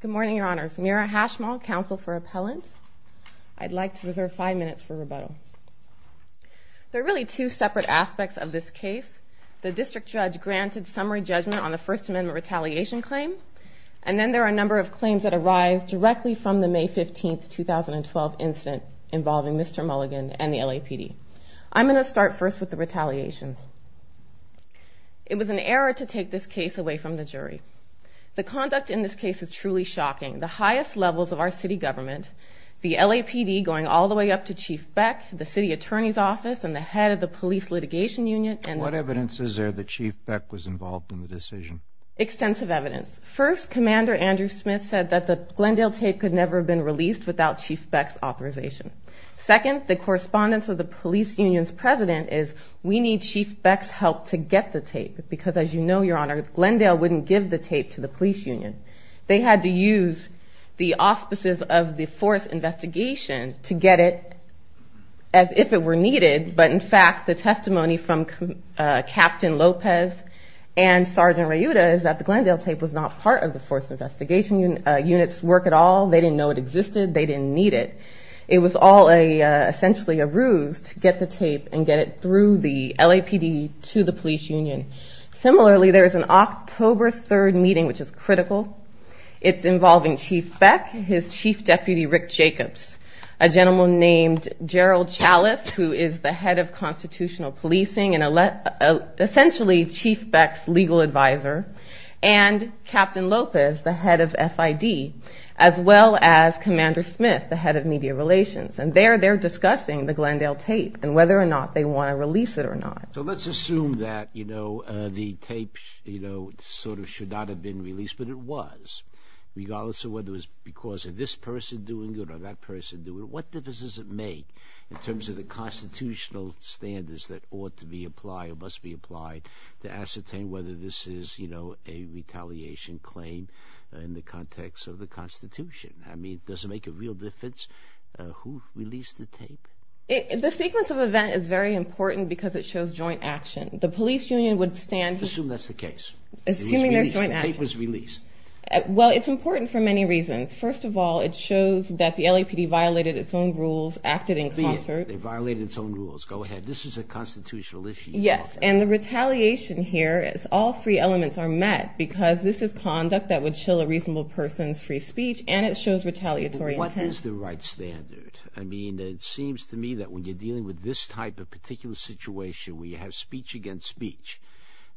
Good morning, Your Honors. Meera Hashmal, Counsel for Appellant. I'd like to reserve five minutes for rebuttal. There are really two separate aspects of this case. The District Judge granted summary judgment on the First Amendment retaliation claim, and then there are a number of claims that arise directly from the May 15, 2012 incident involving Mr. Mulligan and the LAPD. I'm going to start first with the retaliation. It was an error to take this case away from the jury. The conduct in this case is truly shocking. The highest levels of our city government, the LAPD going all the way up to Chief Beck, the City Attorney's Office, and the head of the Police Litigation Union. And what evidence is there that Chief Beck was involved in the decision? Extensive evidence. First, Commander Andrew Smith said that the Glendale tape could never have been released without Chief Beck's authorization. Second, the correspondence of the police union's president is, we need Chief Beck's help to get the tape, because as you know, Your Honor, Glendale wouldn't give the tape to the police union. They had to use the auspices of the force investigation to get it as if it were needed. But in fact, the testimony from Captain Lopez and Sergeant Ryuta is that the Glendale tape was not part of the force investigation unit's work at all. They didn't know it existed. They didn't need it. It was all essentially a ruse to get the tape and get it through the LAPD to the police union. Similarly, there is an October 3rd meeting, which is critical. It's involving Chief Beck, his chief deputy, Rick Jacobs, a gentleman named Gerald Chalif, who is the head of constitutional policing and essentially Chief Beck's legal advisor, and Captain Lopez, the head of FID, as well as Commander Smith, the head of media relations. And there they're discussing the Glendale tape and whether or not they want to release it or not. So let's assume that, you know, the tape, you know, sort of should not have been released, but it was, regardless of whether it was because of this person doing it or that person doing it. What difference does it make in terms of the constitutional standards that ought to be applied or must be applied to ascertain whether this is, you know, a retaliation claim in the context of the Constitution? I mean, does it make a real difference who released the tape? The sequence of events is very important because it shows joint action. The police union would stand— Assume that's the case. Assuming there's joint action. The tape was released. Well, it's important for many reasons. First of all, it shows that the LAPD violated its own rules, acted in concert. They violated its own rules. Go ahead. This is a constitutional issue. Yes. And the retaliation here is all three elements are met because this is conduct that would chill a reasonable person's free speech, and it shows retaliatory intent. What is the right standard? I mean, it seems to me that when you're dealing with this type of particular situation where you have speech against speech,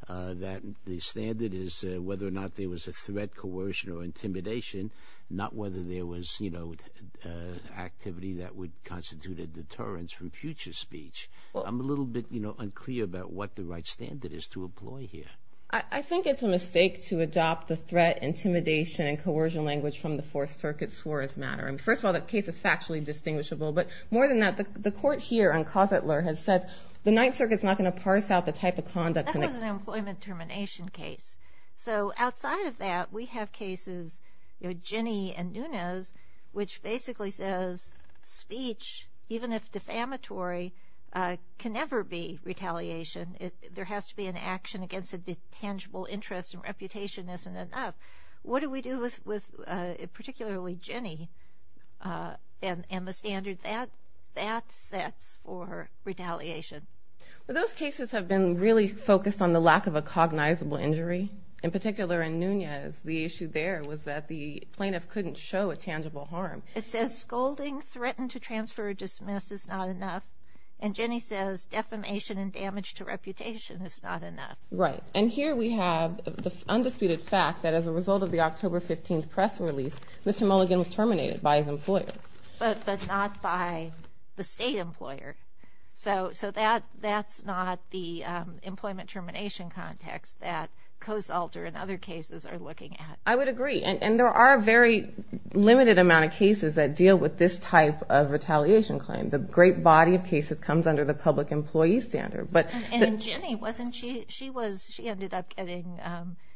that the standard is whether or not there was a threat, coercion, or intimidation, not whether there was, you know, activity that would constitute a deterrence from future speech. I'm a little bit, you know, unclear about what the right standard is to employ here. I think it's a mistake to adopt the threat, intimidation, and coercion language from the Fourth Circuit's swore as matter. First of all, that case is factually distinguishable, but more than that, the court here on Cositler has said the Ninth Circuit is not going to parse out the type of conduct. That was an employment termination case. So outside of that, we have cases, you know, Ginnie and Nunes, which basically says speech, even if defamatory, can never be retaliation. There has to be an action against a tangible interest and reputation isn't enough. What do we do with particularly Ginnie and the standard that sets for retaliation? Well, those cases have been really focused on the lack of a cognizable injury. In particular in Nunes, the issue there was that the plaintiff couldn't show a tangible harm. It says scolding, threatened to transfer or dismiss is not enough, and Ginnie says defamation and damage to reputation is not enough. Right, and here we have the undisputed fact that as a result of the October 15 press release, Mr. Mulligan was terminated by his employer. But not by the state employer. So that's not the employment termination context that Cositler and other cases are looking at. I would agree, and there are a very limited amount of cases that deal with this type of retaliation claim. The great body of cases comes under the public employee standard. And Ginnie, she ended up getting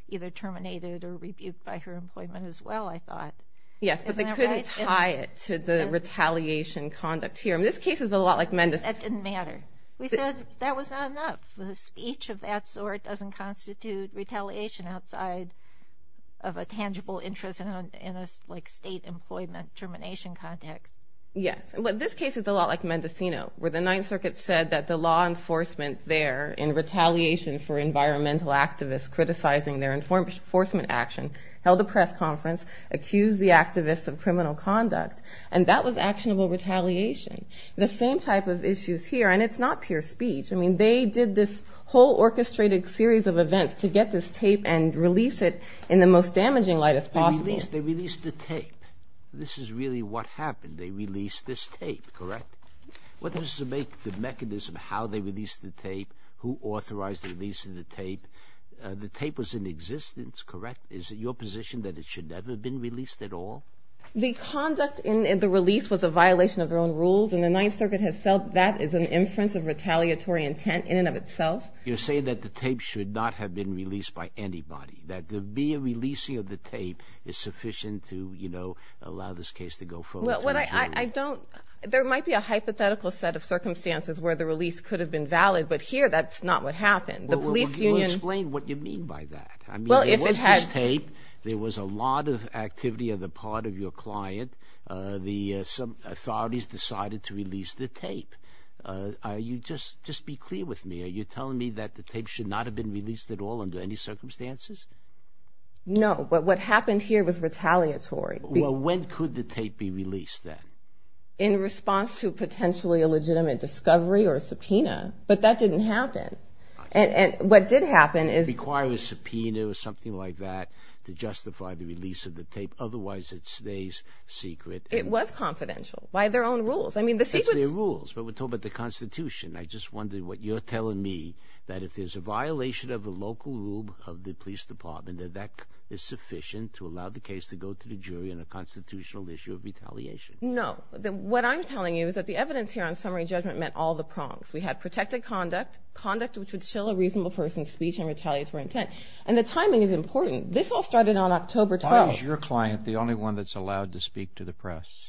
either terminated or rebuked by her employment as well, I thought. Yes, but they couldn't tie it to the retaliation conduct here. This case is a lot like Mendocino. That didn't matter. We said that was not enough. A speech of that sort doesn't constitute retaliation outside of a tangible interest in a state employment termination context. Yes, but this case is a lot like Mendocino, where the Ninth Circuit said that the law enforcement there, in retaliation for environmental activists criticizing their enforcement action, held a press conference, accused the activists of criminal conduct. And that was actionable retaliation. The same type of issues here. And it's not pure speech. I mean, they did this whole orchestrated series of events to get this tape and release it in the most damaging light as possible. They released the tape. This is really what happened. They released this tape, correct? Well, this is to make the mechanism how they released the tape, who authorized the release of the tape. The tape was in existence, correct? Is it your position that it should never have been released at all? The conduct in the release was a violation of their own rules, and the Ninth Circuit has felt that is an inference of retaliatory intent in and of itself. You're saying that the tape should not have been released by anybody, that there be a releasing of the tape is sufficient to, you know, allow this case to go forward? There might be a hypothetical set of circumstances where the release could have been valid, but here that's not what happened. Explain what you mean by that. I mean, there was this tape. There was a lot of activity on the part of your client. The authorities decided to release the tape. Just be clear with me. Are you telling me that the tape should not have been released at all under any circumstances? No, but what happened here was retaliatory. Well, when could the tape be released then? In response to potentially a legitimate discovery or subpoena, but that didn't happen. And what did happen is— It requires a subpoena or something like that to justify the release of the tape. Otherwise, it stays secret. It was confidential by their own rules. I mean, the secret— It's their rules, but we're talking about the Constitution. I just wonder what you're telling me, that if there's a violation of the local rule of the police department, that that is sufficient to allow the case to go to the jury on a constitutional issue of retaliation. No. What I'm telling you is that the evidence here on summary judgment met all the prongs. We had protected conduct, conduct which would show a reasonable person's speech and retaliatory intent. And the timing is important. This all started on October 12th. Why is your client the only one that's allowed to speak to the press?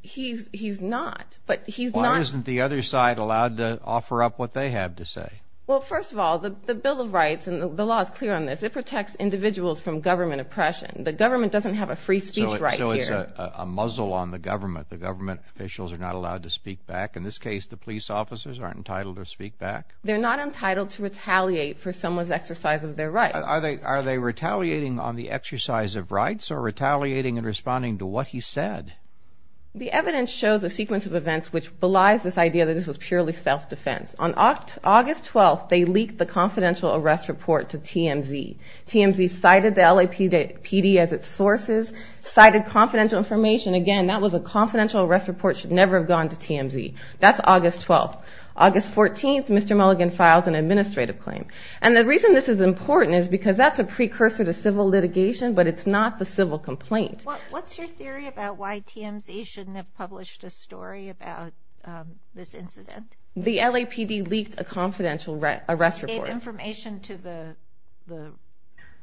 He's not, but he's not— Why isn't the other side allowed to offer up what they have to say? Well, first of all, the Bill of Rights and the law is clear on this. It protects individuals from government oppression. The government doesn't have a free speech right here. So it's a muzzle on the government. The government officials are not allowed to speak back. In this case, the police officers aren't entitled to speak back? They're not entitled to retaliate for someone's exercise of their rights. Are they retaliating on the exercise of rights or retaliating and responding to what he said? The evidence shows a sequence of events which belies this idea that this was purely self-defense. On August 12th, they leaked the confidential arrest report to TMZ. TMZ cited the LAPD as its sources, cited confidential information. Again, that was a confidential arrest report. It should never have gone to TMZ. That's August 12th. August 14th, Mr. Mulligan files an administrative claim. And the reason this is important is because that's a precursor to civil litigation, but it's not the civil complaint. What's your theory about why TMZ shouldn't have published a story about this incident? The LAPD leaked a confidential arrest report. They gave information to the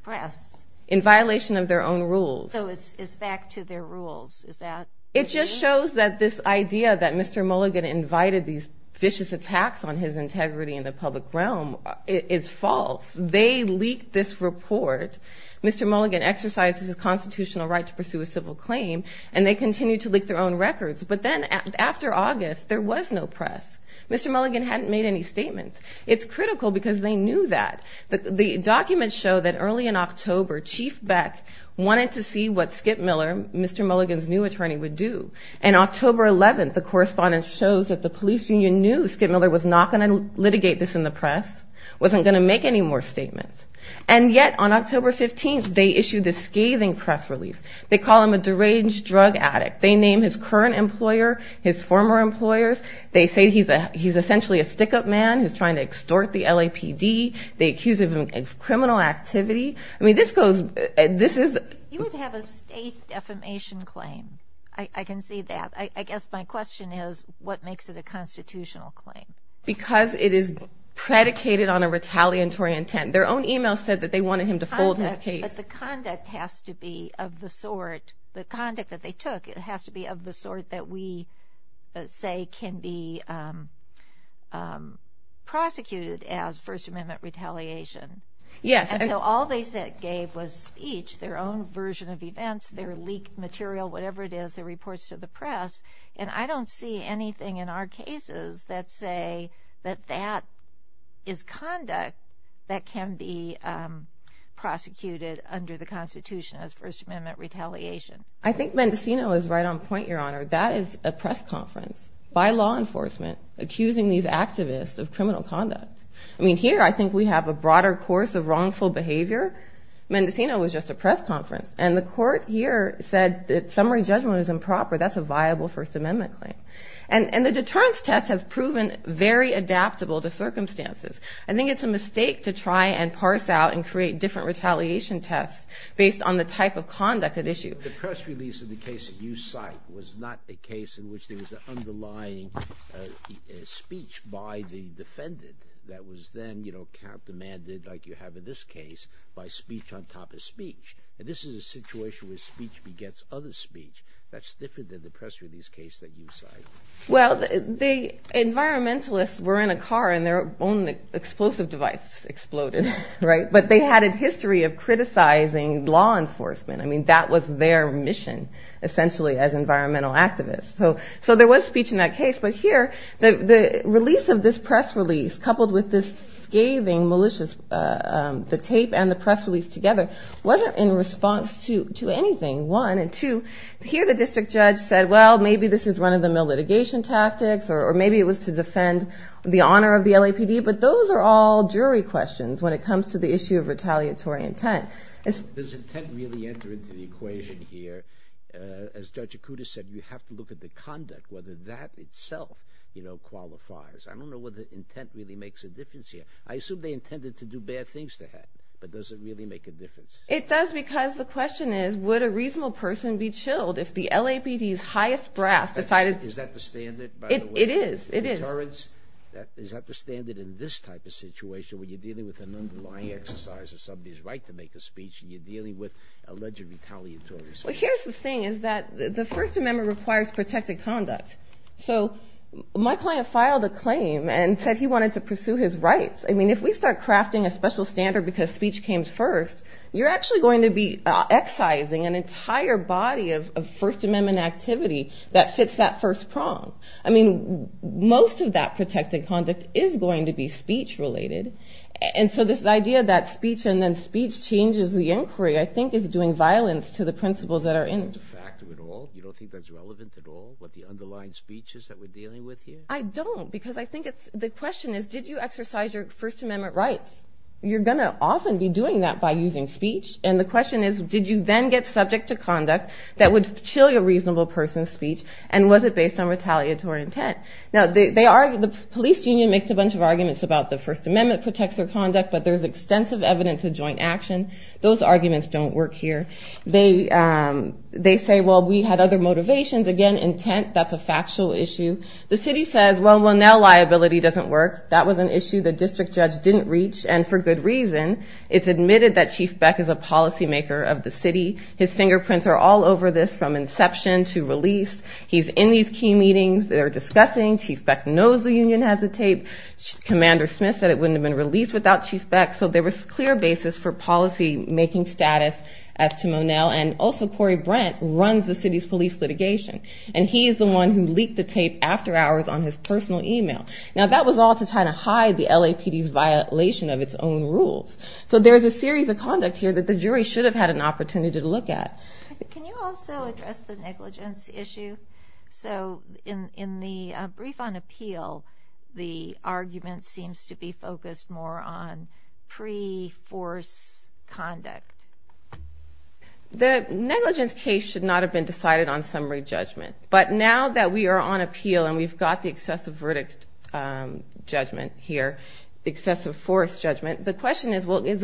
press. In violation of their own rules. So it's back to their rules, is that what you mean? It just shows that this idea that Mr. Mulligan invited these vicious attacks on his integrity in the public realm is false. They leaked this report. Mr. Mulligan exercised his constitutional right to pursue a civil claim, and they continued to leak their own records. But then after August, there was no press. Mr. Mulligan hadn't made any statements. It's critical because they knew that. The documents show that early in October, Chief Beck wanted to see what Skip Miller, Mr. Mulligan's new attorney, would do. And October 11th, the correspondence shows that the police union knew Skip Miller was not going to litigate this in the press, wasn't going to make any more statements. And yet, on October 15th, they issued this scathing press release. They call him a deranged drug addict. They name his current employer, his former employers. They say he's essentially a stick-up man who's trying to extort the LAPD. They accuse him of criminal activity. I mean, this goes – this is – You would have a state defamation claim. I can see that. I guess my question is, what makes it a constitutional claim? Because it is predicated on a retaliatory intent. Their own email said that they wanted him to fold his case. But the conduct has to be of the sort – the conduct that they took has to be of the sort that we say can be prosecuted as First Amendment retaliation. Yes. And so all they gave was speech, their own version of events, their leaked material, whatever it is, their reports to the press. And I don't see anything in our cases that say that that is conduct that can be prosecuted under the Constitution as First Amendment retaliation. I think Mendocino is right on point, Your Honor. That is a press conference by law enforcement accusing these activists of criminal conduct. I mean, here I think we have a broader course of wrongful behavior. Mendocino was just a press conference. And the court here said that summary judgment is improper. That's a viable First Amendment claim. And the deterrence test has proven very adaptable to circumstances. I think it's a mistake to try and parse out and create different retaliation tests based on the type of conduct at issue. The press release of the case that you cite was not a case in which there was an underlying speech by the defendant that was then, you know, countermanded like you have in this case by speech on top of speech. And this is a situation where speech begets other speech that's different than the press release case that you cite. Well, the environmentalists were in a car and their own explosive device exploded. Right. But they had a history of criticizing law enforcement. I mean, that was their mission essentially as environmental activists. So there was speech in that case. But here, the release of this press release coupled with this scathing malicious, the tape and the press release together, wasn't in response to anything, one. And, two, here the district judge said, well, maybe this is run-of-the-mill litigation tactics or maybe it was to defend the honor of the LAPD. But those are all jury questions when it comes to the issue of retaliatory intent. Does intent really enter into the equation here? As Judge Acuda said, you have to look at the conduct, whether that itself, you know, qualifies. I don't know whether intent really makes a difference here. I assume they intended to do bad things to him. But does it really make a difference? It does because the question is, would a reasonable person be chilled if the LAPD's highest brass decided to Is that the standard, by the way? It is. It is. Is that the standard in this type of situation when you're dealing with an underlying exercise of somebody's right to make a speech and you're dealing with alleged retaliatory speech? Well, here's the thing is that the First Amendment requires protected conduct. So my client filed a claim and said he wanted to pursue his rights. I mean, if we start crafting a special standard because speech came first, you're actually going to be excising an entire body of First Amendment activity that fits that first prong. I mean, most of that protected conduct is going to be speech-related. And so this idea that speech and then speech changes the inquiry, I think, is doing violence to the principles that are in it. Do you want to factor it all? You don't think that's relevant at all, what the underlying speech is that we're dealing with here? I don't because I think the question is, did you exercise your First Amendment rights? You're going to often be doing that by using speech. And the question is, did you then get subject to conduct that would chill your reasonable person's speech? And was it based on retaliatory intent? Now, the police union makes a bunch of arguments about the First Amendment protects their conduct, but there's extensive evidence of joint action. Those arguments don't work here. They say, well, we had other motivations. Again, intent, that's a factual issue. The city says, well, now liability doesn't work. That was an issue the district judge didn't reach, and for good reason. It's admitted that Chief Beck is a policymaker of the city. His fingerprints are all over this from inception to release. He's in these key meetings. They're discussing. Chief Beck knows the union has a tape. Commander Smith said it wouldn't have been released without Chief Beck. So there was clear basis for policymaking status as to Monell. And also Corey Brent runs the city's police litigation. And he is the one who leaked the tape after hours on his personal e-mail. Now, that was all to try to hide the LAPD's violation of its own rules. So there's a series of conduct here that the jury should have had an opportunity to look at. Can you also address the negligence issue? So in the brief on appeal, the argument seems to be focused more on pre-force conduct. The negligence case should not have been decided on summary judgment. But now that we are on appeal and we've got the excessive verdict judgment here, excessive force judgment, the question is, well, The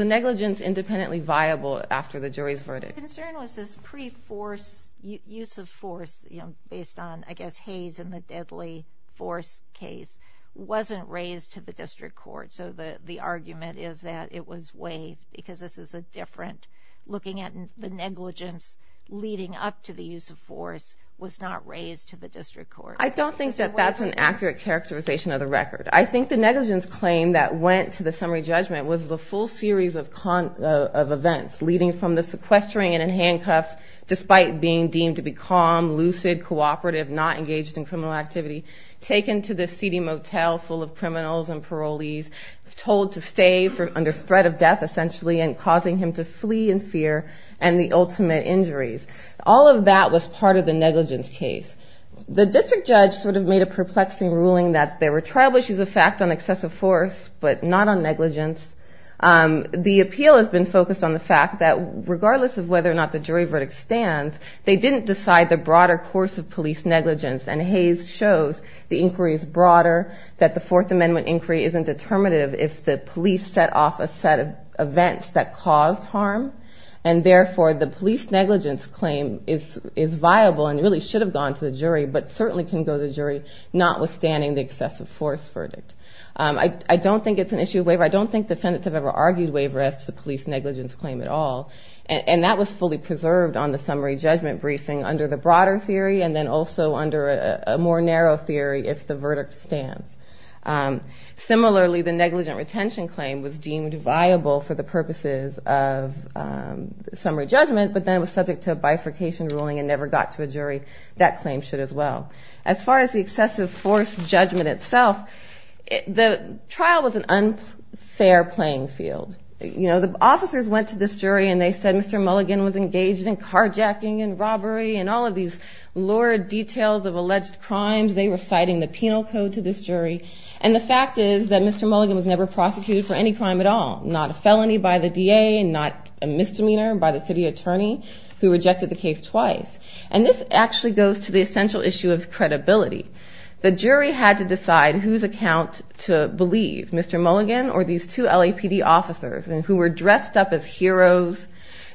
concern was this pre-force use of force based on, I guess, Hayes and the deadly force case wasn't raised to the district court. So the argument is that it was waived because this is a different looking at the negligence leading up to the use of force was not raised to the district court. I don't think that that's an accurate characterization of the record. I think the negligence claim that went to the summary judgment was the full series of events leading from the sequestering and handcuffs despite being deemed to be calm, lucid, cooperative, not engaged in criminal activity, taken to the seedy motel full of criminals and parolees, told to stay under threat of death essentially and causing him to flee in fear and the ultimate injuries. All of that was part of the negligence case. The district judge sort of made a perplexing ruling that there were trial issues of fact on excessive force but not on negligence. The appeal has been focused on the fact that regardless of whether or not the jury verdict stands, they didn't decide the broader course of police negligence and Hayes shows the inquiry is broader, that the Fourth Amendment inquiry isn't determinative if the police set off a set of events that caused harm and therefore the police negligence claim is viable and really should have gone to the jury but certainly can go to the jury notwithstanding the excessive force verdict. I don't think it's an issue of waiver. I don't think defendants have ever argued waiver as to the police negligence claim at all and that was fully preserved on the summary judgment briefing under the broader theory and then also under a more narrow theory if the verdict stands. Similarly, the negligent retention claim was deemed viable for the purposes of summary judgment but then was subject to a bifurcation ruling and never got to a jury. That claim should as well. As far as the excessive force judgment itself, the trial was an unfair playing field. You know, the officers went to this jury and they said Mr. Mulligan was engaged in carjacking and robbery and all of these lurid details of alleged crimes. They were citing the penal code to this jury and the fact is that Mr. Mulligan was never prosecuted for any crime at all, not a felony by the DA and not a misdemeanor by the city attorney who rejected the case twice and this actually goes to the essential issue of credibility. The jury had to decide whose account to believe, Mr. Mulligan or these two LAPD officers who were dressed up as heroes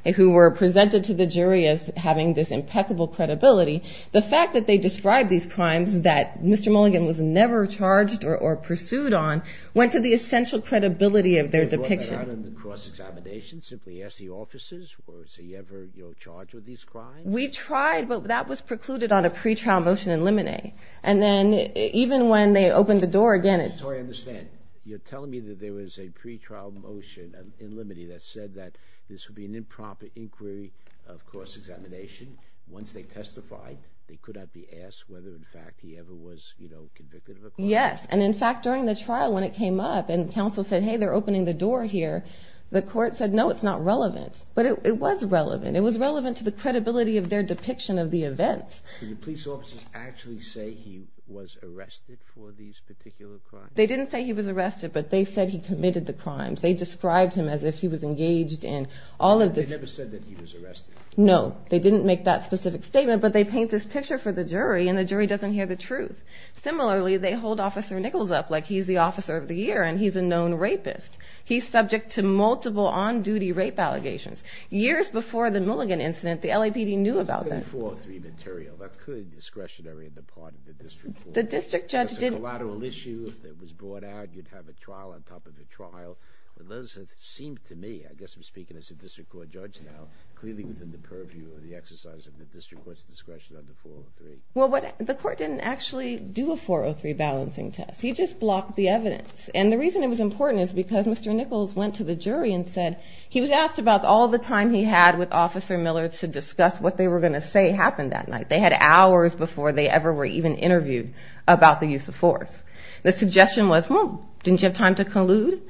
and who were presented to the jury as having this impeccable credibility. The fact that they described these crimes that Mr. Mulligan was never charged or pursued on went to the essential credibility of their depiction. You tried on the cross-examination, simply ask the officers, was he ever charged with these crimes? We tried, but that was precluded on a pre-trial motion in limine. And then even when they opened the door again... So I understand, you're telling me that there was a pre-trial motion in limine that said that this would be an impromptu inquiry of cross-examination. Once they testified, they could not be asked whether in fact he ever was convicted of a crime. Yes, and in fact during the trial when it came up and counsel said, hey, they're opening the door here, the court said, no, it's not relevant. But it was relevant. It was relevant to the credibility of their depiction of the events. Did the police officers actually say he was arrested for these particular crimes? They didn't say he was arrested, but they said he committed the crimes. They described him as if he was engaged in all of this... They never said that he was arrested. No, they didn't make that specific statement, but they paint this picture for the jury and the jury doesn't hear the truth. Similarly, they hold Officer Nichols up like he's the officer of the year and he's a known rapist. He's subject to multiple on-duty rape allegations. Years before the Mulligan incident, the LAPD knew about that. This is under 403 material. That's clearly discretionary on the part of the district court. The district judge didn't... It's a collateral issue that was brought out. You'd have a trial on top of a trial. Those that seem to me, I guess I'm speaking as a district court judge now, clearly within the purview of the exercise of the district court's discretion under 403. Well, the court didn't actually do a 403 balancing test. He just blocked the evidence. And the reason it was important is because Mr. Nichols went to the jury and said... He was asked about all the time he had with Officer Miller to discuss what they were going to say happened that night. They had hours before they ever were even interviewed about the use of force. The suggestion was, well, didn't you have time to collude?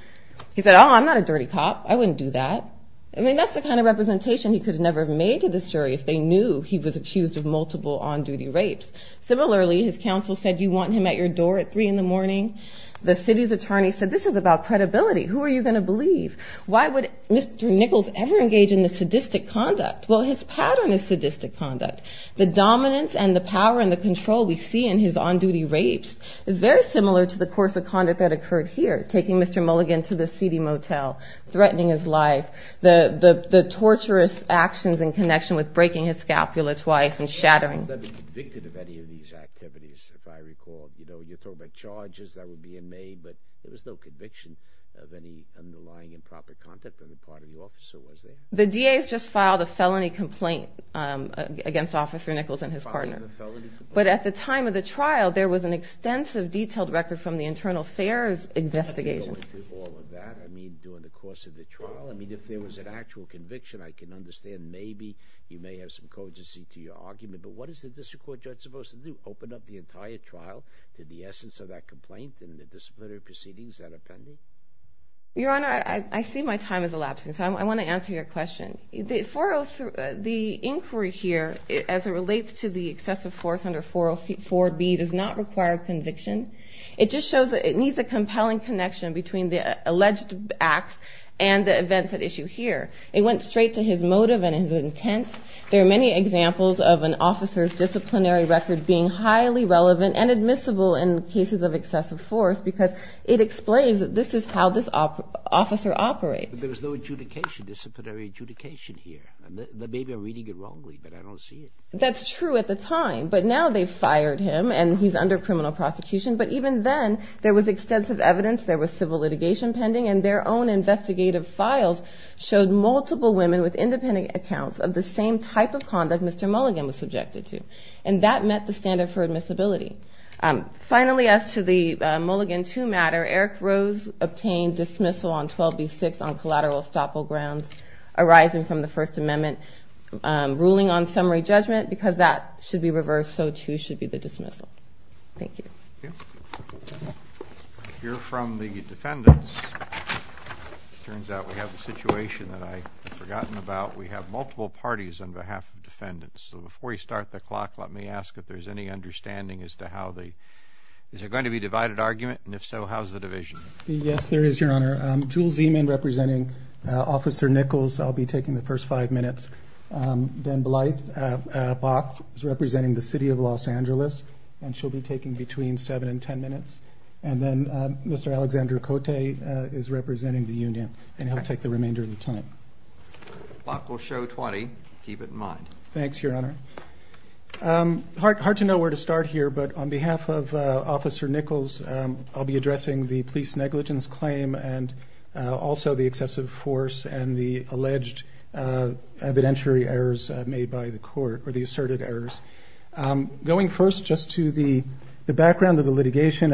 He said, oh, I'm not a dirty cop. I wouldn't do that. I mean, that's the kind of representation he could have never made to this jury if they knew he was accused of multiple on-duty rapes. Similarly, his counsel said, do you want him at your door at 3 in the morning? The city's attorney said, this is about credibility. Who are you going to believe? Why would Mr. Nichols ever engage in this sadistic conduct? Well, his pattern is sadistic conduct. The dominance and the power and the control we see in his on-duty rapes is very similar to the course of conduct that occurred here, taking Mr. Mulligan to the seedy motel, threatening his life. The torturous actions in connection with breaking his scapula twice and shattering. He wasn't convicted of any of these activities, if I recall. You know, you're talking about charges that would be in May, but there was no conviction of any underlying improper conduct on the part of the officer, was there? The DA's just filed a felony complaint against Officer Nichols and his partner. But at the time of the trial, there was an extensive detailed record from the internal affairs investigation. Going through all of that, I mean, during the course of the trial? I mean, if there was an actual conviction, I can understand maybe you may have some cogency to your argument, but what is the district court judge supposed to do? Open up the entire trial to the essence of that complaint and the disciplinary proceedings that are pending? Your Honor, I see my time is elapsing, so I want to answer your question. The inquiry here, as it relates to the excessive force under 404B, does not require conviction. It just shows that it needs a compelling connection between the alleged acts and the events at issue here. It went straight to his motive and his intent. There are many examples of an officer's disciplinary record being highly relevant and admissible in cases of excessive force because it explains that this is how this officer operates. But there was no adjudication, disciplinary adjudication here. Maybe I'm reading it wrongly, but I don't see it. That's true at the time, but now they've fired him and he's under criminal prosecution. But even then, there was extensive evidence, there was civil litigation pending, and their own investigative files showed multiple women with independent accounts of the same type of conduct Mr. Mulligan was subjected to, and that met the standard for admissibility. Finally, as to the Mulligan II matter, Eric Rose obtained dismissal on 12B6 on collateral estoppel grounds arising from the First Amendment ruling on summary judgment because that should be reversed, so too should be the dismissal. Thank you. We'll hear from the defendants. It turns out we have a situation that I had forgotten about. We have multiple parties on behalf of defendants. So before we start the clock, let me ask if there's any understanding as to how the—is there going to be a divided argument? And if so, how is the division? Yes, there is, Your Honor. Jules Zeman representing Officer Nichols. I'll be taking the first five minutes. Then Blythe Bach is representing the City of Los Angeles, and she'll be taking between seven and ten minutes. And then Mr. Alexander Cote is representing the union, and he'll take the remainder of the time. Bach will show 20. Keep it in mind. Thanks, Your Honor. Hard to know where to start here, but on behalf of Officer Nichols, I'll be addressing the police negligence claim and also the excessive force and the alleged evidentiary errors made by the court, or the asserted errors. Going first just to the background of the litigation,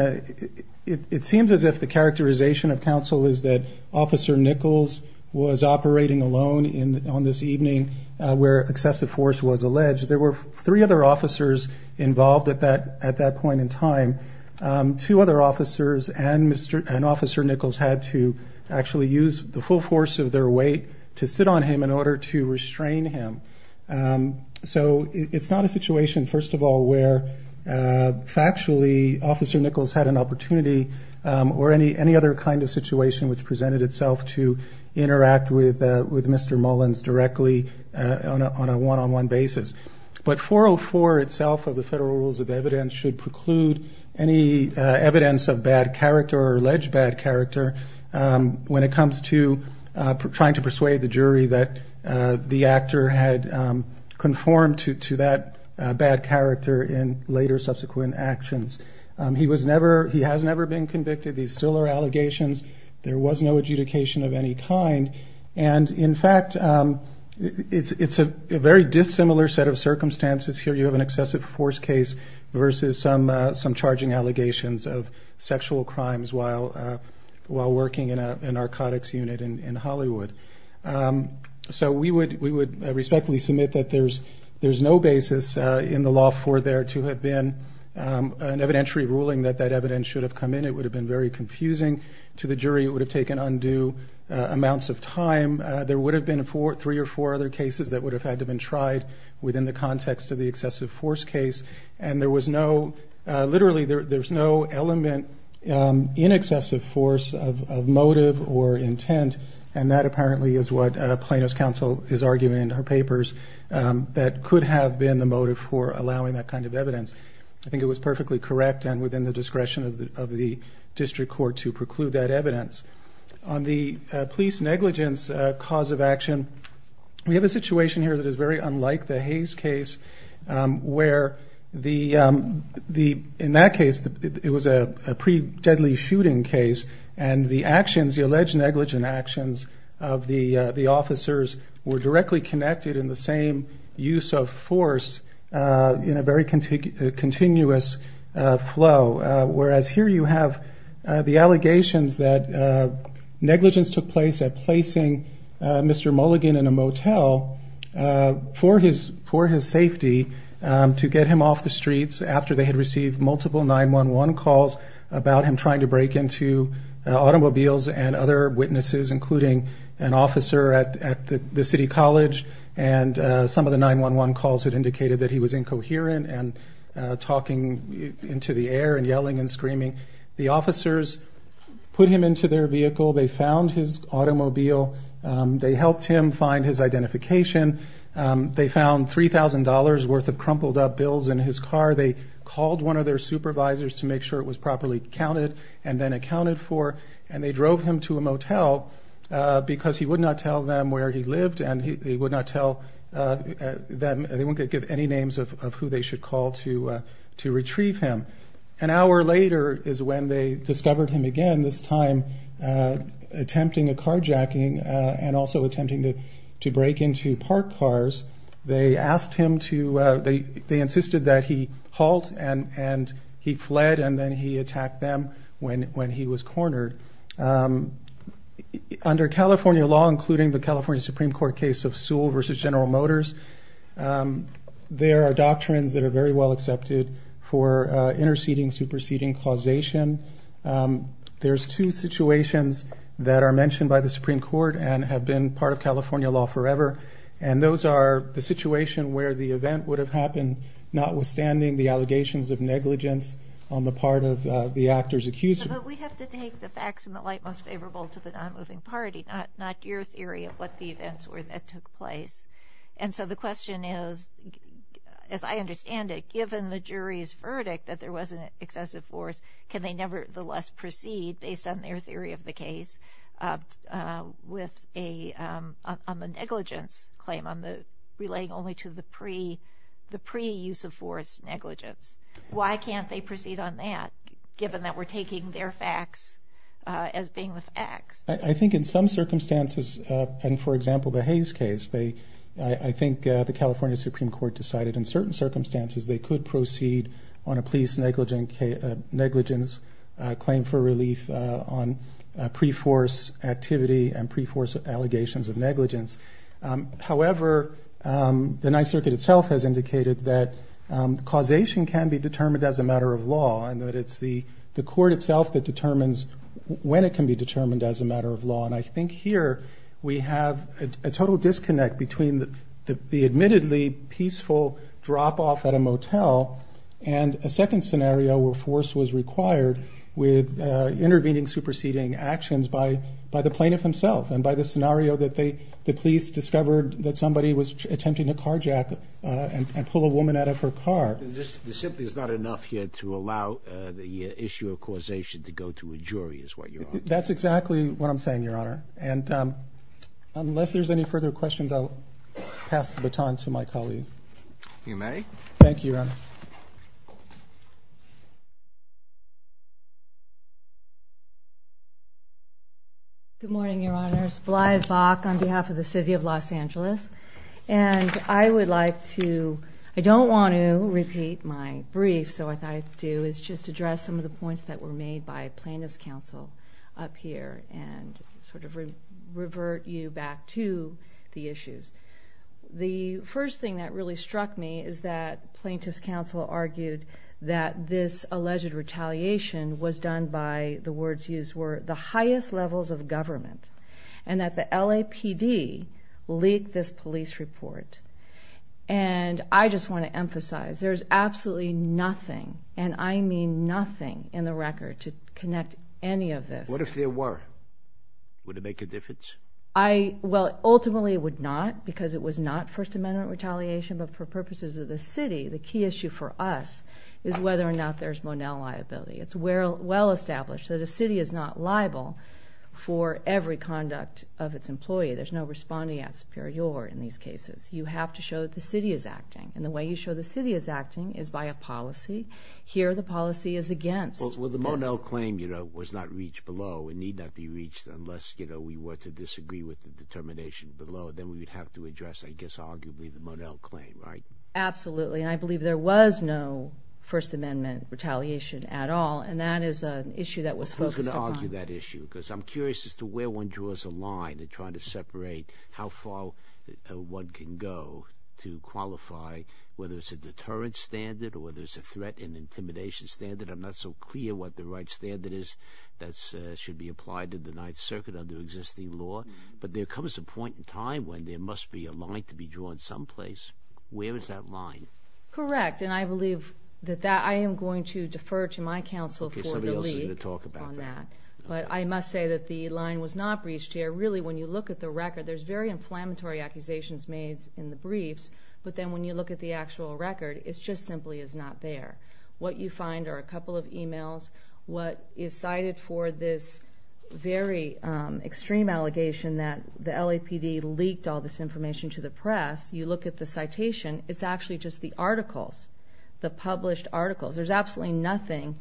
it seems as if the characterization of counsel is that Officer Nichols was operating alone on this evening where excessive force was alleged. There were three other officers involved at that point in time. Two other officers and Officer Nichols had to actually use the full force of their weight to sit on him in order to restrain him. So it's not a situation, first of all, where factually Officer Nichols had an opportunity or any other kind of situation which presented itself to interact with Mr. Mullins directly on a one-on-one basis. But 404 itself of the federal rules of evidence should preclude any evidence of bad character or alleged bad character when it comes to trying to persuade the jury that the actor had conformed to that bad character in later subsequent actions. He has never been convicted. These still are allegations. There was no adjudication of any kind. And, in fact, it's a very dissimilar set of circumstances here. You have an excessive force case versus some charging allegations of sexual crimes while working in a narcotics unit in Hollywood. So we would respectfully submit that there's no basis in the law for there to have been an evidentiary ruling that that evidence should have come in. It would have been very confusing to the jury. It would have taken undue amounts of time. There would have been three or four other cases that would have had to have been tried within the context of the excessive force case. And there was no... Literally, there's no element in excessive force of motive or intent, and that apparently is what Plano's counsel is arguing in her papers, that could have been the motive for allowing that kind of evidence. I think it was perfectly correct and within the discretion of the district court to preclude that evidence. On the police negligence cause of action, we have a situation here that is very unlike the Hayes case where in that case it was a pre-deadly shooting case and the actions, the alleged negligent actions of the officers were directly connected in the same use of force in a very continuous flow. Whereas here you have the allegations that negligence took place at placing Mr. Mulligan in a motel for his safety to get him off the streets after they had received multiple 911 calls about him trying to break into automobiles and other witnesses including an officer at the city college and some of the 911 calls had indicated that he was incoherent and talking into the air and yelling and screaming. The officers put him into their vehicle. They found his automobile. They helped him find his identification. They found $3,000 worth of crumpled up bills in his car. They called one of their supervisors to make sure it was properly counted and then accounted for and they drove him to a motel because he would not tell them where he lived and they wouldn't give any names of who they should call to retrieve him. An hour later is when they discovered him again, this time attempting a carjacking and also attempting to break into parked cars. They insisted that he halt and he fled and then he attacked them when he was cornered. Under California law, including the California Supreme Court case of Sewell v. General Motors, there are doctrines that are very well accepted for interceding, superseding, causation. There's two situations that are mentioned by the Supreme Court and have been part of California law forever and those are the situation where the event would have happened notwithstanding the allegations of negligence on the part of the actor's accuser. But we have to take the facts in the light most favorable to the non-moving party, not your theory of what the events were that took place. And so the question is, as I understand it, given the jury's verdict that there was an excessive force, can they nevertheless proceed based on their theory of the case with a negligence claim relaying only to the pre-use of force negligence? Why can't they proceed on that given that we're taking their facts as being the facts? I think in some circumstances, and for example the Hayes case, I think the California Supreme Court decided in certain circumstances they could proceed on a police negligence claim for relief on pre-force activity and pre-force allegations of negligence. However, the Ninth Circuit itself has indicated that causation can be determined as a matter of law and that it's the court itself that determines when it can be determined as a matter of law. And I think here we have a total disconnect between the admittedly peaceful drop-off at a motel and a second scenario where force was required with intervening, superseding actions by the plaintiff himself and by the scenario that the police discovered that somebody was attempting to carjack and pull a woman out of her car. This simply is not enough here to allow the issue of causation to go to a jury is what you're arguing? That's exactly what I'm saying, Your Honor. And unless there's any further questions, I'll pass the baton to my colleague. You may. Thank you, Your Honor. Good morning, Your Honors. Blythe Bock on behalf of the city of Los Angeles. And I would like to, I don't want to repeat my brief, so what I thought I'd do is just address some of the points that were made by plaintiff's counsel up here and sort of revert you back to the issues. The first thing that really struck me is that plaintiff's counsel argued that this alleged retaliation was done by the words used were the highest levels of government and that the LAPD leaked this police report. And I just want to emphasize there's absolutely nothing, and I mean nothing in the record to connect any of this. What if there were? Would it make a difference? I, well, ultimately it would not because it was not First Amendment retaliation, but for purposes of the city, the key issue for us is whether or not there's Monell liability. It's well established that a city is not liable for every conduct of its employee. There's no respondeat superior in these cases. You have to show that the city is acting. And the way you show the city is acting is by a policy. Here the policy is against. Well, the Monell claim, you know, was not reached below and need not be reached unless, you know, we were to disagree with the determination below. Then we would have to address, I guess, arguably the Monell claim, right? Absolutely, and I believe there was no First Amendment retaliation at all, and that is an issue that was focused upon. Who's going to argue that issue? Because I'm curious as to where one draws a line in trying to separate how far one can go to qualify whether it's a deterrent standard or whether it's a threat and intimidation standard. I'm not so clear what the right standard is that should be applied to the Ninth Circuit under existing law. But there comes a point in time when there must be a line to be drawn someplace. Where is that line? Correct, and I believe that that I am going to defer to my counsel for the lead on that. But I must say that the line was not reached here. Really, when you look at the record, there's very inflammatory accusations made in the briefs, but then when you look at the actual record, it just simply is not there. What you find are a couple of emails. What is cited for this very extreme allegation that the LAPD leaked all this information to the press, you look at the citation, it's actually just the articles, the published articles. There's absolutely nothing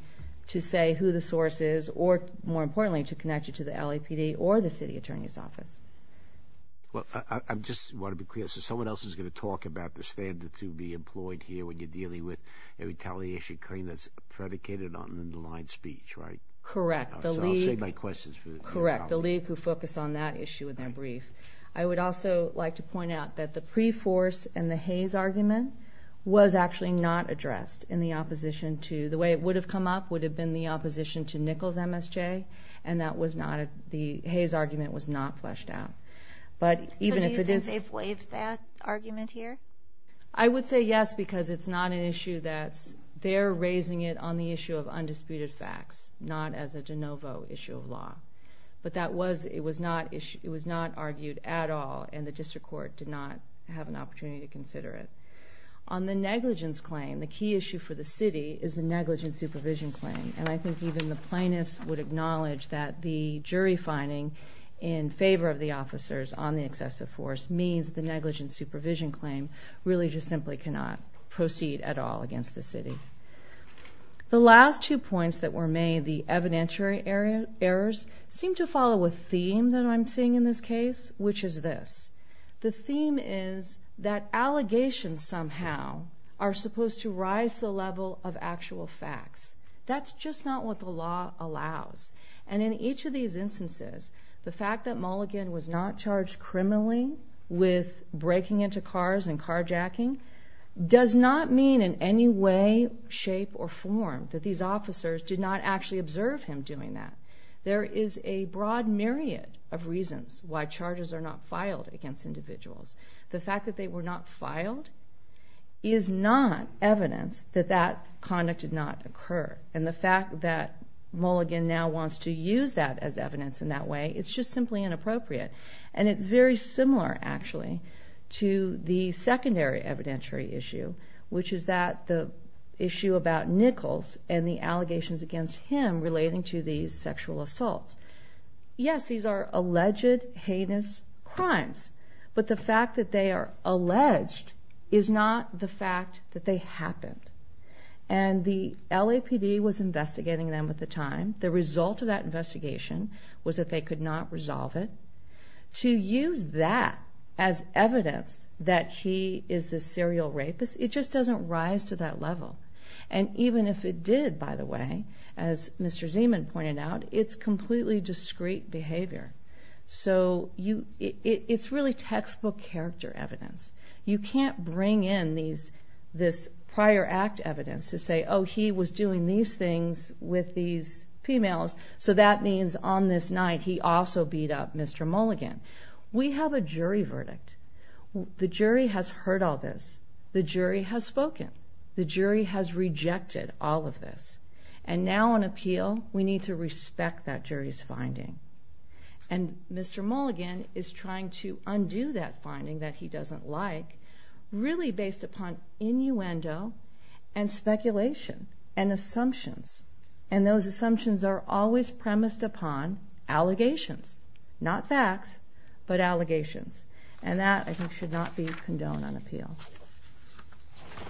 to say who the source is or, more importantly, to connect you to the LAPD or the city attorney's office. Well, I just want to be clear. So someone else is going to talk about the standard to be employed here when you're dealing with a retaliation claim that's predicated on an underlined speech, right? Correct. So I'll save my questions for later on. Correct, the lead who focused on that issue in their brief. I would also like to point out that the pre-force and the Hays argument was actually not addressed in the opposition to, the way it would have come up, would have been the opposition to Nichols MSJ, and that was not, the Hays argument was not fleshed out. So do you think they've waived that argument here? I would say yes because it's not an issue that's, they're raising it on the issue of undisputed facts, not as a de novo issue of law. But that was, it was not argued at all, and the district court did not have an opportunity to consider it. On the negligence claim, the key issue for the city is the negligence supervision claim, and I think even the plaintiffs would acknowledge that the jury finding in favor of the officers on the excessive force means the negligence supervision claim really just simply cannot proceed at all against the city. The last two points that were made, the evidentiary errors, seem to follow a theme that I'm seeing in this case, which is this. The theme is that allegations somehow are supposed to rise to the level of actual facts. That's just not what the law allows. And in each of these instances, the fact that Mulligan was not charged criminally with breaking into cars and carjacking does not mean in any way, shape, or form that these officers did not actually observe him doing that. There is a broad myriad of reasons why charges are not filed against individuals. The fact that they were not filed is not evidence that that conduct did not occur. And the fact that Mulligan now wants to use that as evidence in that way, it's just simply inappropriate. And it's very similar, actually, to the secondary evidentiary issue, which is the issue about Nichols and the allegations against him relating to these sexual assaults. Yes, these are alleged heinous crimes, but the fact that they are alleged is not the fact that they happened. And the LAPD was investigating them at the time. The result of that investigation was that they could not resolve it. To use that as evidence that he is the serial rapist, it just doesn't rise to that level. And even if it did, by the way, as Mr. Zeman pointed out, it's completely discreet behavior. So it's really textbook character evidence. You can't bring in this prior act evidence to say, oh, he was doing these things with these females, so that means on this night he also beat up Mr. Mulligan. We have a jury verdict. The jury has heard all this. The jury has spoken. The jury has rejected all of this. And now on appeal, we need to respect that jury's finding. And Mr. Mulligan is trying to undo that finding that he doesn't like really based upon innuendo and speculation and assumptions. And those assumptions are always premised upon allegations, not facts, but allegations. And that, I think, should not be condoned on appeal.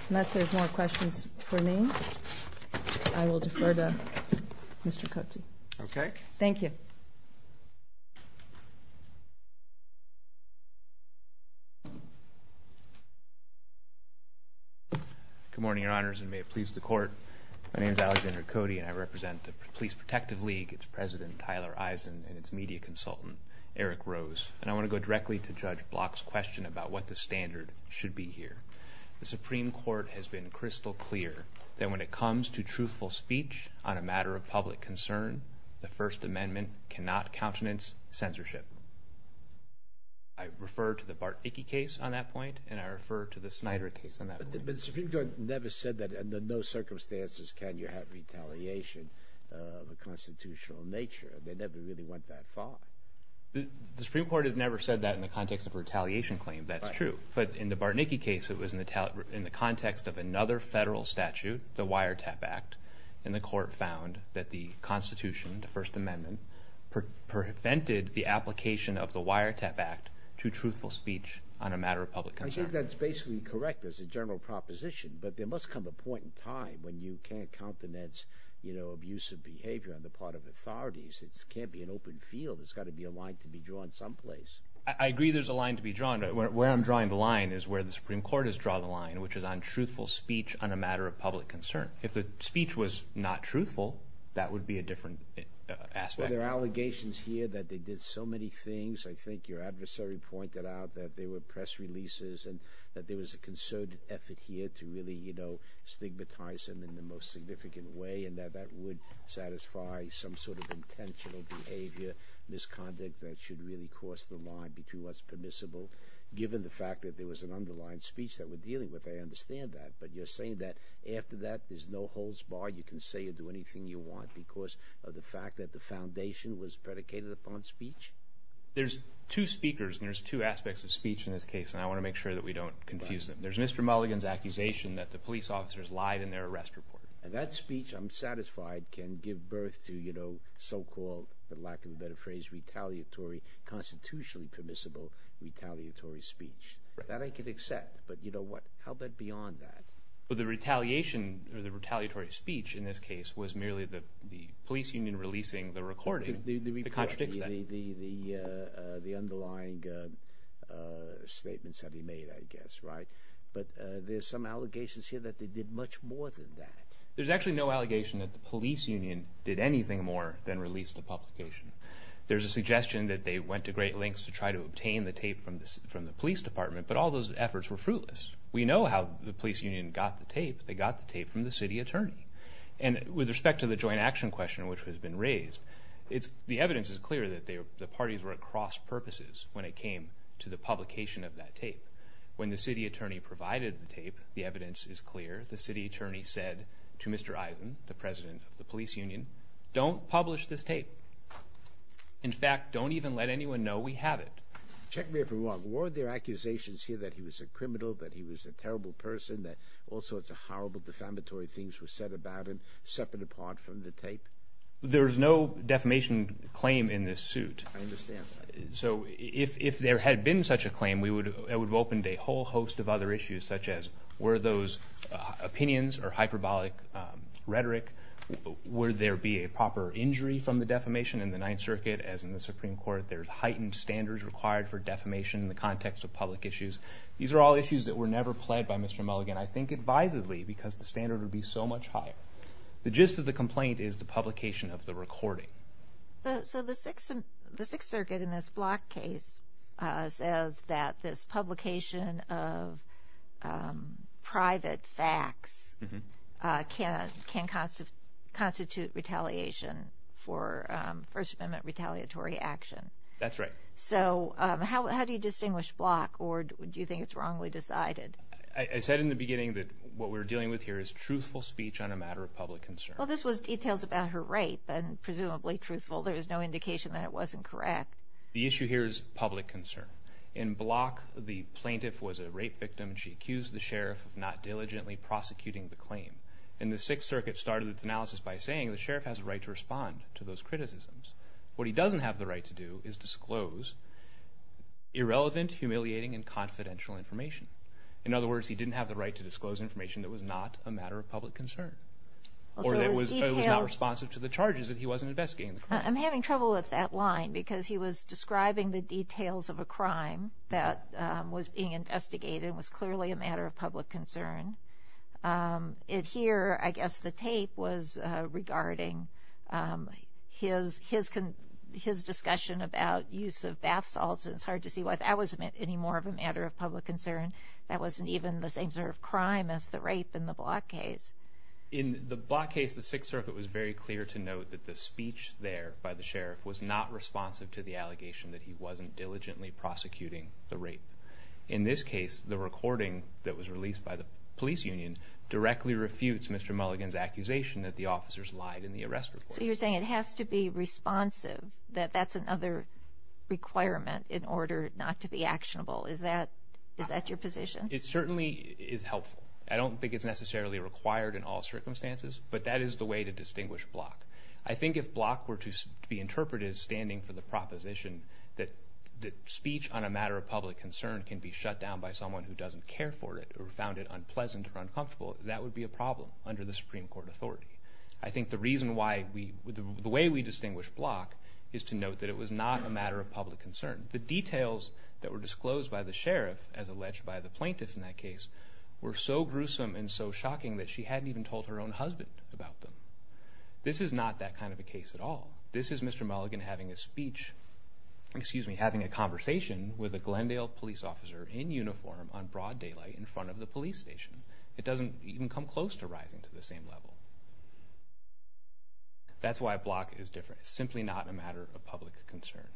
Unless there's more questions for me, I will defer to Mr. Cote. Okay. Thank you. Good morning, Your Honors, and may it please the Court. My name is Alexander Cote, and I represent the Police Protective League. It's President Tyler Eisen and its media consultant, Eric Rose. And I want to go directly to Judge Block's question about what the standard should be here. The Supreme Court has been crystal clear that when it comes to truthful speech on a matter of public concern, the First Amendment cannot countenance censorship. I refer to the Bart Icke case on that point, and I refer to the Snyder case on that point. But the Supreme Court never said that under no circumstances can you have retaliation of a constitutional nature. They never really went that far. The Supreme Court has never said that in the context of a retaliation claim. That's true. But in the Bart Icke case, it was in the context of another federal statute, the Wiretap Act, and the Court found that the Constitution, the First Amendment, prevented the application of the Wiretap Act to truthful speech on a matter of public concern. I think that's basically correct as a general proposition, but there must come a point in time when you can't countenance, you know, abusive behavior on the part of authorities. It can't be an open field. There's got to be a line to be drawn someplace. I agree there's a line to be drawn, but where I'm drawing the line is where the Supreme Court has drawn the line, which is on truthful speech on a matter of public concern. If the speech was not truthful, that would be a different aspect. Well, there are allegations here that they did so many things. I think your adversary pointed out that there were press releases and that there was a concerted effort here to really, you know, stigmatize them in the most significant way and that that would satisfy some sort of intentional behavior, misconduct that should really cross the line between what's permissible, given the fact that there was an underlying speech that we're dealing with. I understand that, but you're saying that after that there's no holds barred, you can say or do anything you want because of the fact that the foundation was predicated upon speech? There's two speakers, and there's two aspects of speech in this case, and I want to make sure that we don't confuse them. There's Mr. Mulligan's accusation that the police officers lied in their arrest report. And that speech, I'm satisfied, can give birth to, you know, so-called, for lack of a better phrase, retaliatory, constitutionally permissible retaliatory speech. That I can accept, but you know what, how about beyond that? Well, the retaliation or the retaliatory speech in this case was merely the police union releasing the recording that contradicts that. The underlying statements that he made, I guess, right? But there's some allegations here that they did much more than that. There's actually no allegation that the police union did anything more than release the publication. There's a suggestion that they went to great lengths to try to obtain the tape from the police department, but all those efforts were fruitless. We know how the police union got the tape. They got the tape from the city attorney. And with respect to the joint action question, which has been raised, the evidence is clear that the parties were at cross purposes when it came to the publication of that tape, when the city attorney provided the tape, the evidence is clear. The city attorney said to Mr. Eisen, the president of the police union, don't publish this tape. In fact, don't even let anyone know we have it. Check me if I'm wrong. Were there accusations here that he was a criminal, that he was a terrible person, that all sorts of horrible defamatory things were said about him separate apart from the tape? There's no defamation claim in this suit. I understand. So if there had been such a claim, it would have opened a whole host of other issues, such as were those opinions or hyperbolic rhetoric, would there be a proper injury from the defamation? In the Ninth Circuit, as in the Supreme Court, there's heightened standards required for defamation in the context of public issues. These are all issues that were never pled by Mr. Mulligan, I think, advisedly, because the standard would be so much higher. The gist of the complaint is the publication of the recording. So the Sixth Circuit in this Block case says that this publication of private facts can constitute retaliation for First Amendment retaliatory action. That's right. So how do you distinguish Block, or do you think it's wrongly decided? I said in the beginning that what we're dealing with here is truthful speech on a matter of public concern. Well, this was details about her rape, and presumably truthful. There is no indication that it wasn't correct. The issue here is public concern. In Block, the plaintiff was a rape victim, and she accused the sheriff of not diligently prosecuting the claim. And the Sixth Circuit started its analysis by saying the sheriff has a right to respond to those criticisms. What he doesn't have the right to do is disclose irrelevant, humiliating, and confidential information. In other words, he didn't have the right to disclose information that was not a matter of public concern. Or that was not responsive to the charges, that he wasn't investigating the crime. I'm having trouble with that line because he was describing the details of a crime that was being investigated and was clearly a matter of public concern. Here, I guess the tape was regarding his discussion about use of bath salts. It's hard to see why that wasn't any more of a matter of public concern. That wasn't even the same sort of crime as the rape in the Block case. In the Block case, the Sixth Circuit was very clear to note that the speech there by the sheriff was not responsive to the allegation that he wasn't diligently prosecuting the rape. In this case, the recording that was released by the police union directly refutes Mr. Mulligan's accusation that the officers lied in the arrest report. So you're saying it has to be responsive, that that's another requirement in order not to be actionable. Is that your position? It certainly is helpful. I don't think it's necessarily required in all circumstances, but that is the way to distinguish Block. I think if Block were to be interpreted as standing for the proposition that speech on a matter of public concern can be shut down by someone who doesn't care for it or found it unpleasant or uncomfortable, that would be a problem under the Supreme Court authority. I think the way we distinguish Block is to note that it was not a matter of public concern. The details that were disclosed by the sheriff as alleged by the plaintiffs in that case were so gruesome and so shocking that she hadn't even told her own husband about them. This is not that kind of a case at all. This is Mr. Mulligan having a speech, excuse me, having a conversation with a Glendale police officer in uniform on broad daylight in front of the police station. It doesn't even come close to rising to the same level. That's why Block is different. It's simply not a matter of public concern.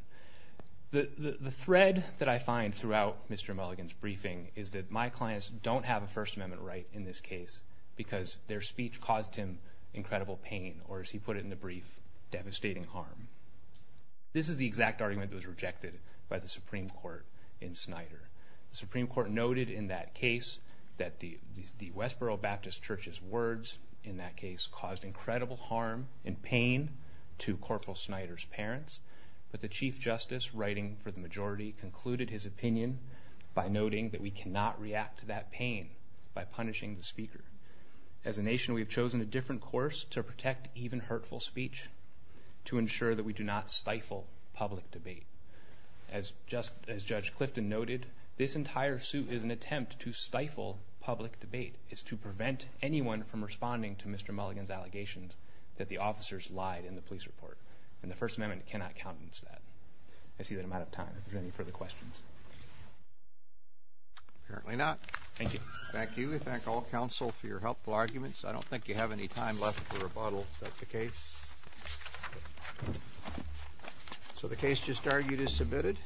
The thread that I find throughout Mr. Mulligan's briefing is that my clients don't have a First Amendment right in this case because their speech caused him incredible pain or, as he put it in the brief, devastating harm. This is the exact argument that was rejected by the Supreme Court in Snyder. The Supreme Court noted in that case that the Westboro Baptist Church's words in that case caused incredible harm and pain to Corporal Snyder's parents, but the Chief Justice, writing for the majority, concluded his opinion by noting that we cannot react to that pain by punishing the speaker. As a nation, we have chosen a different course to protect even hurtful speech to ensure that we do not stifle public debate. As Judge Clifton noted, this entire suit is an attempt to stifle public debate. It's to prevent anyone from responding to Mr. Mulligan's allegations that the officers lied in the police report, and the First Amendment cannot countenance that. I see that I'm out of time. Are there any further questions? Apparently not. Thank you. Thank you. I thank all counsel for your helpful arguments. I don't think you have any time left for rebuttal. Is that the case? So the case just argued is submitted.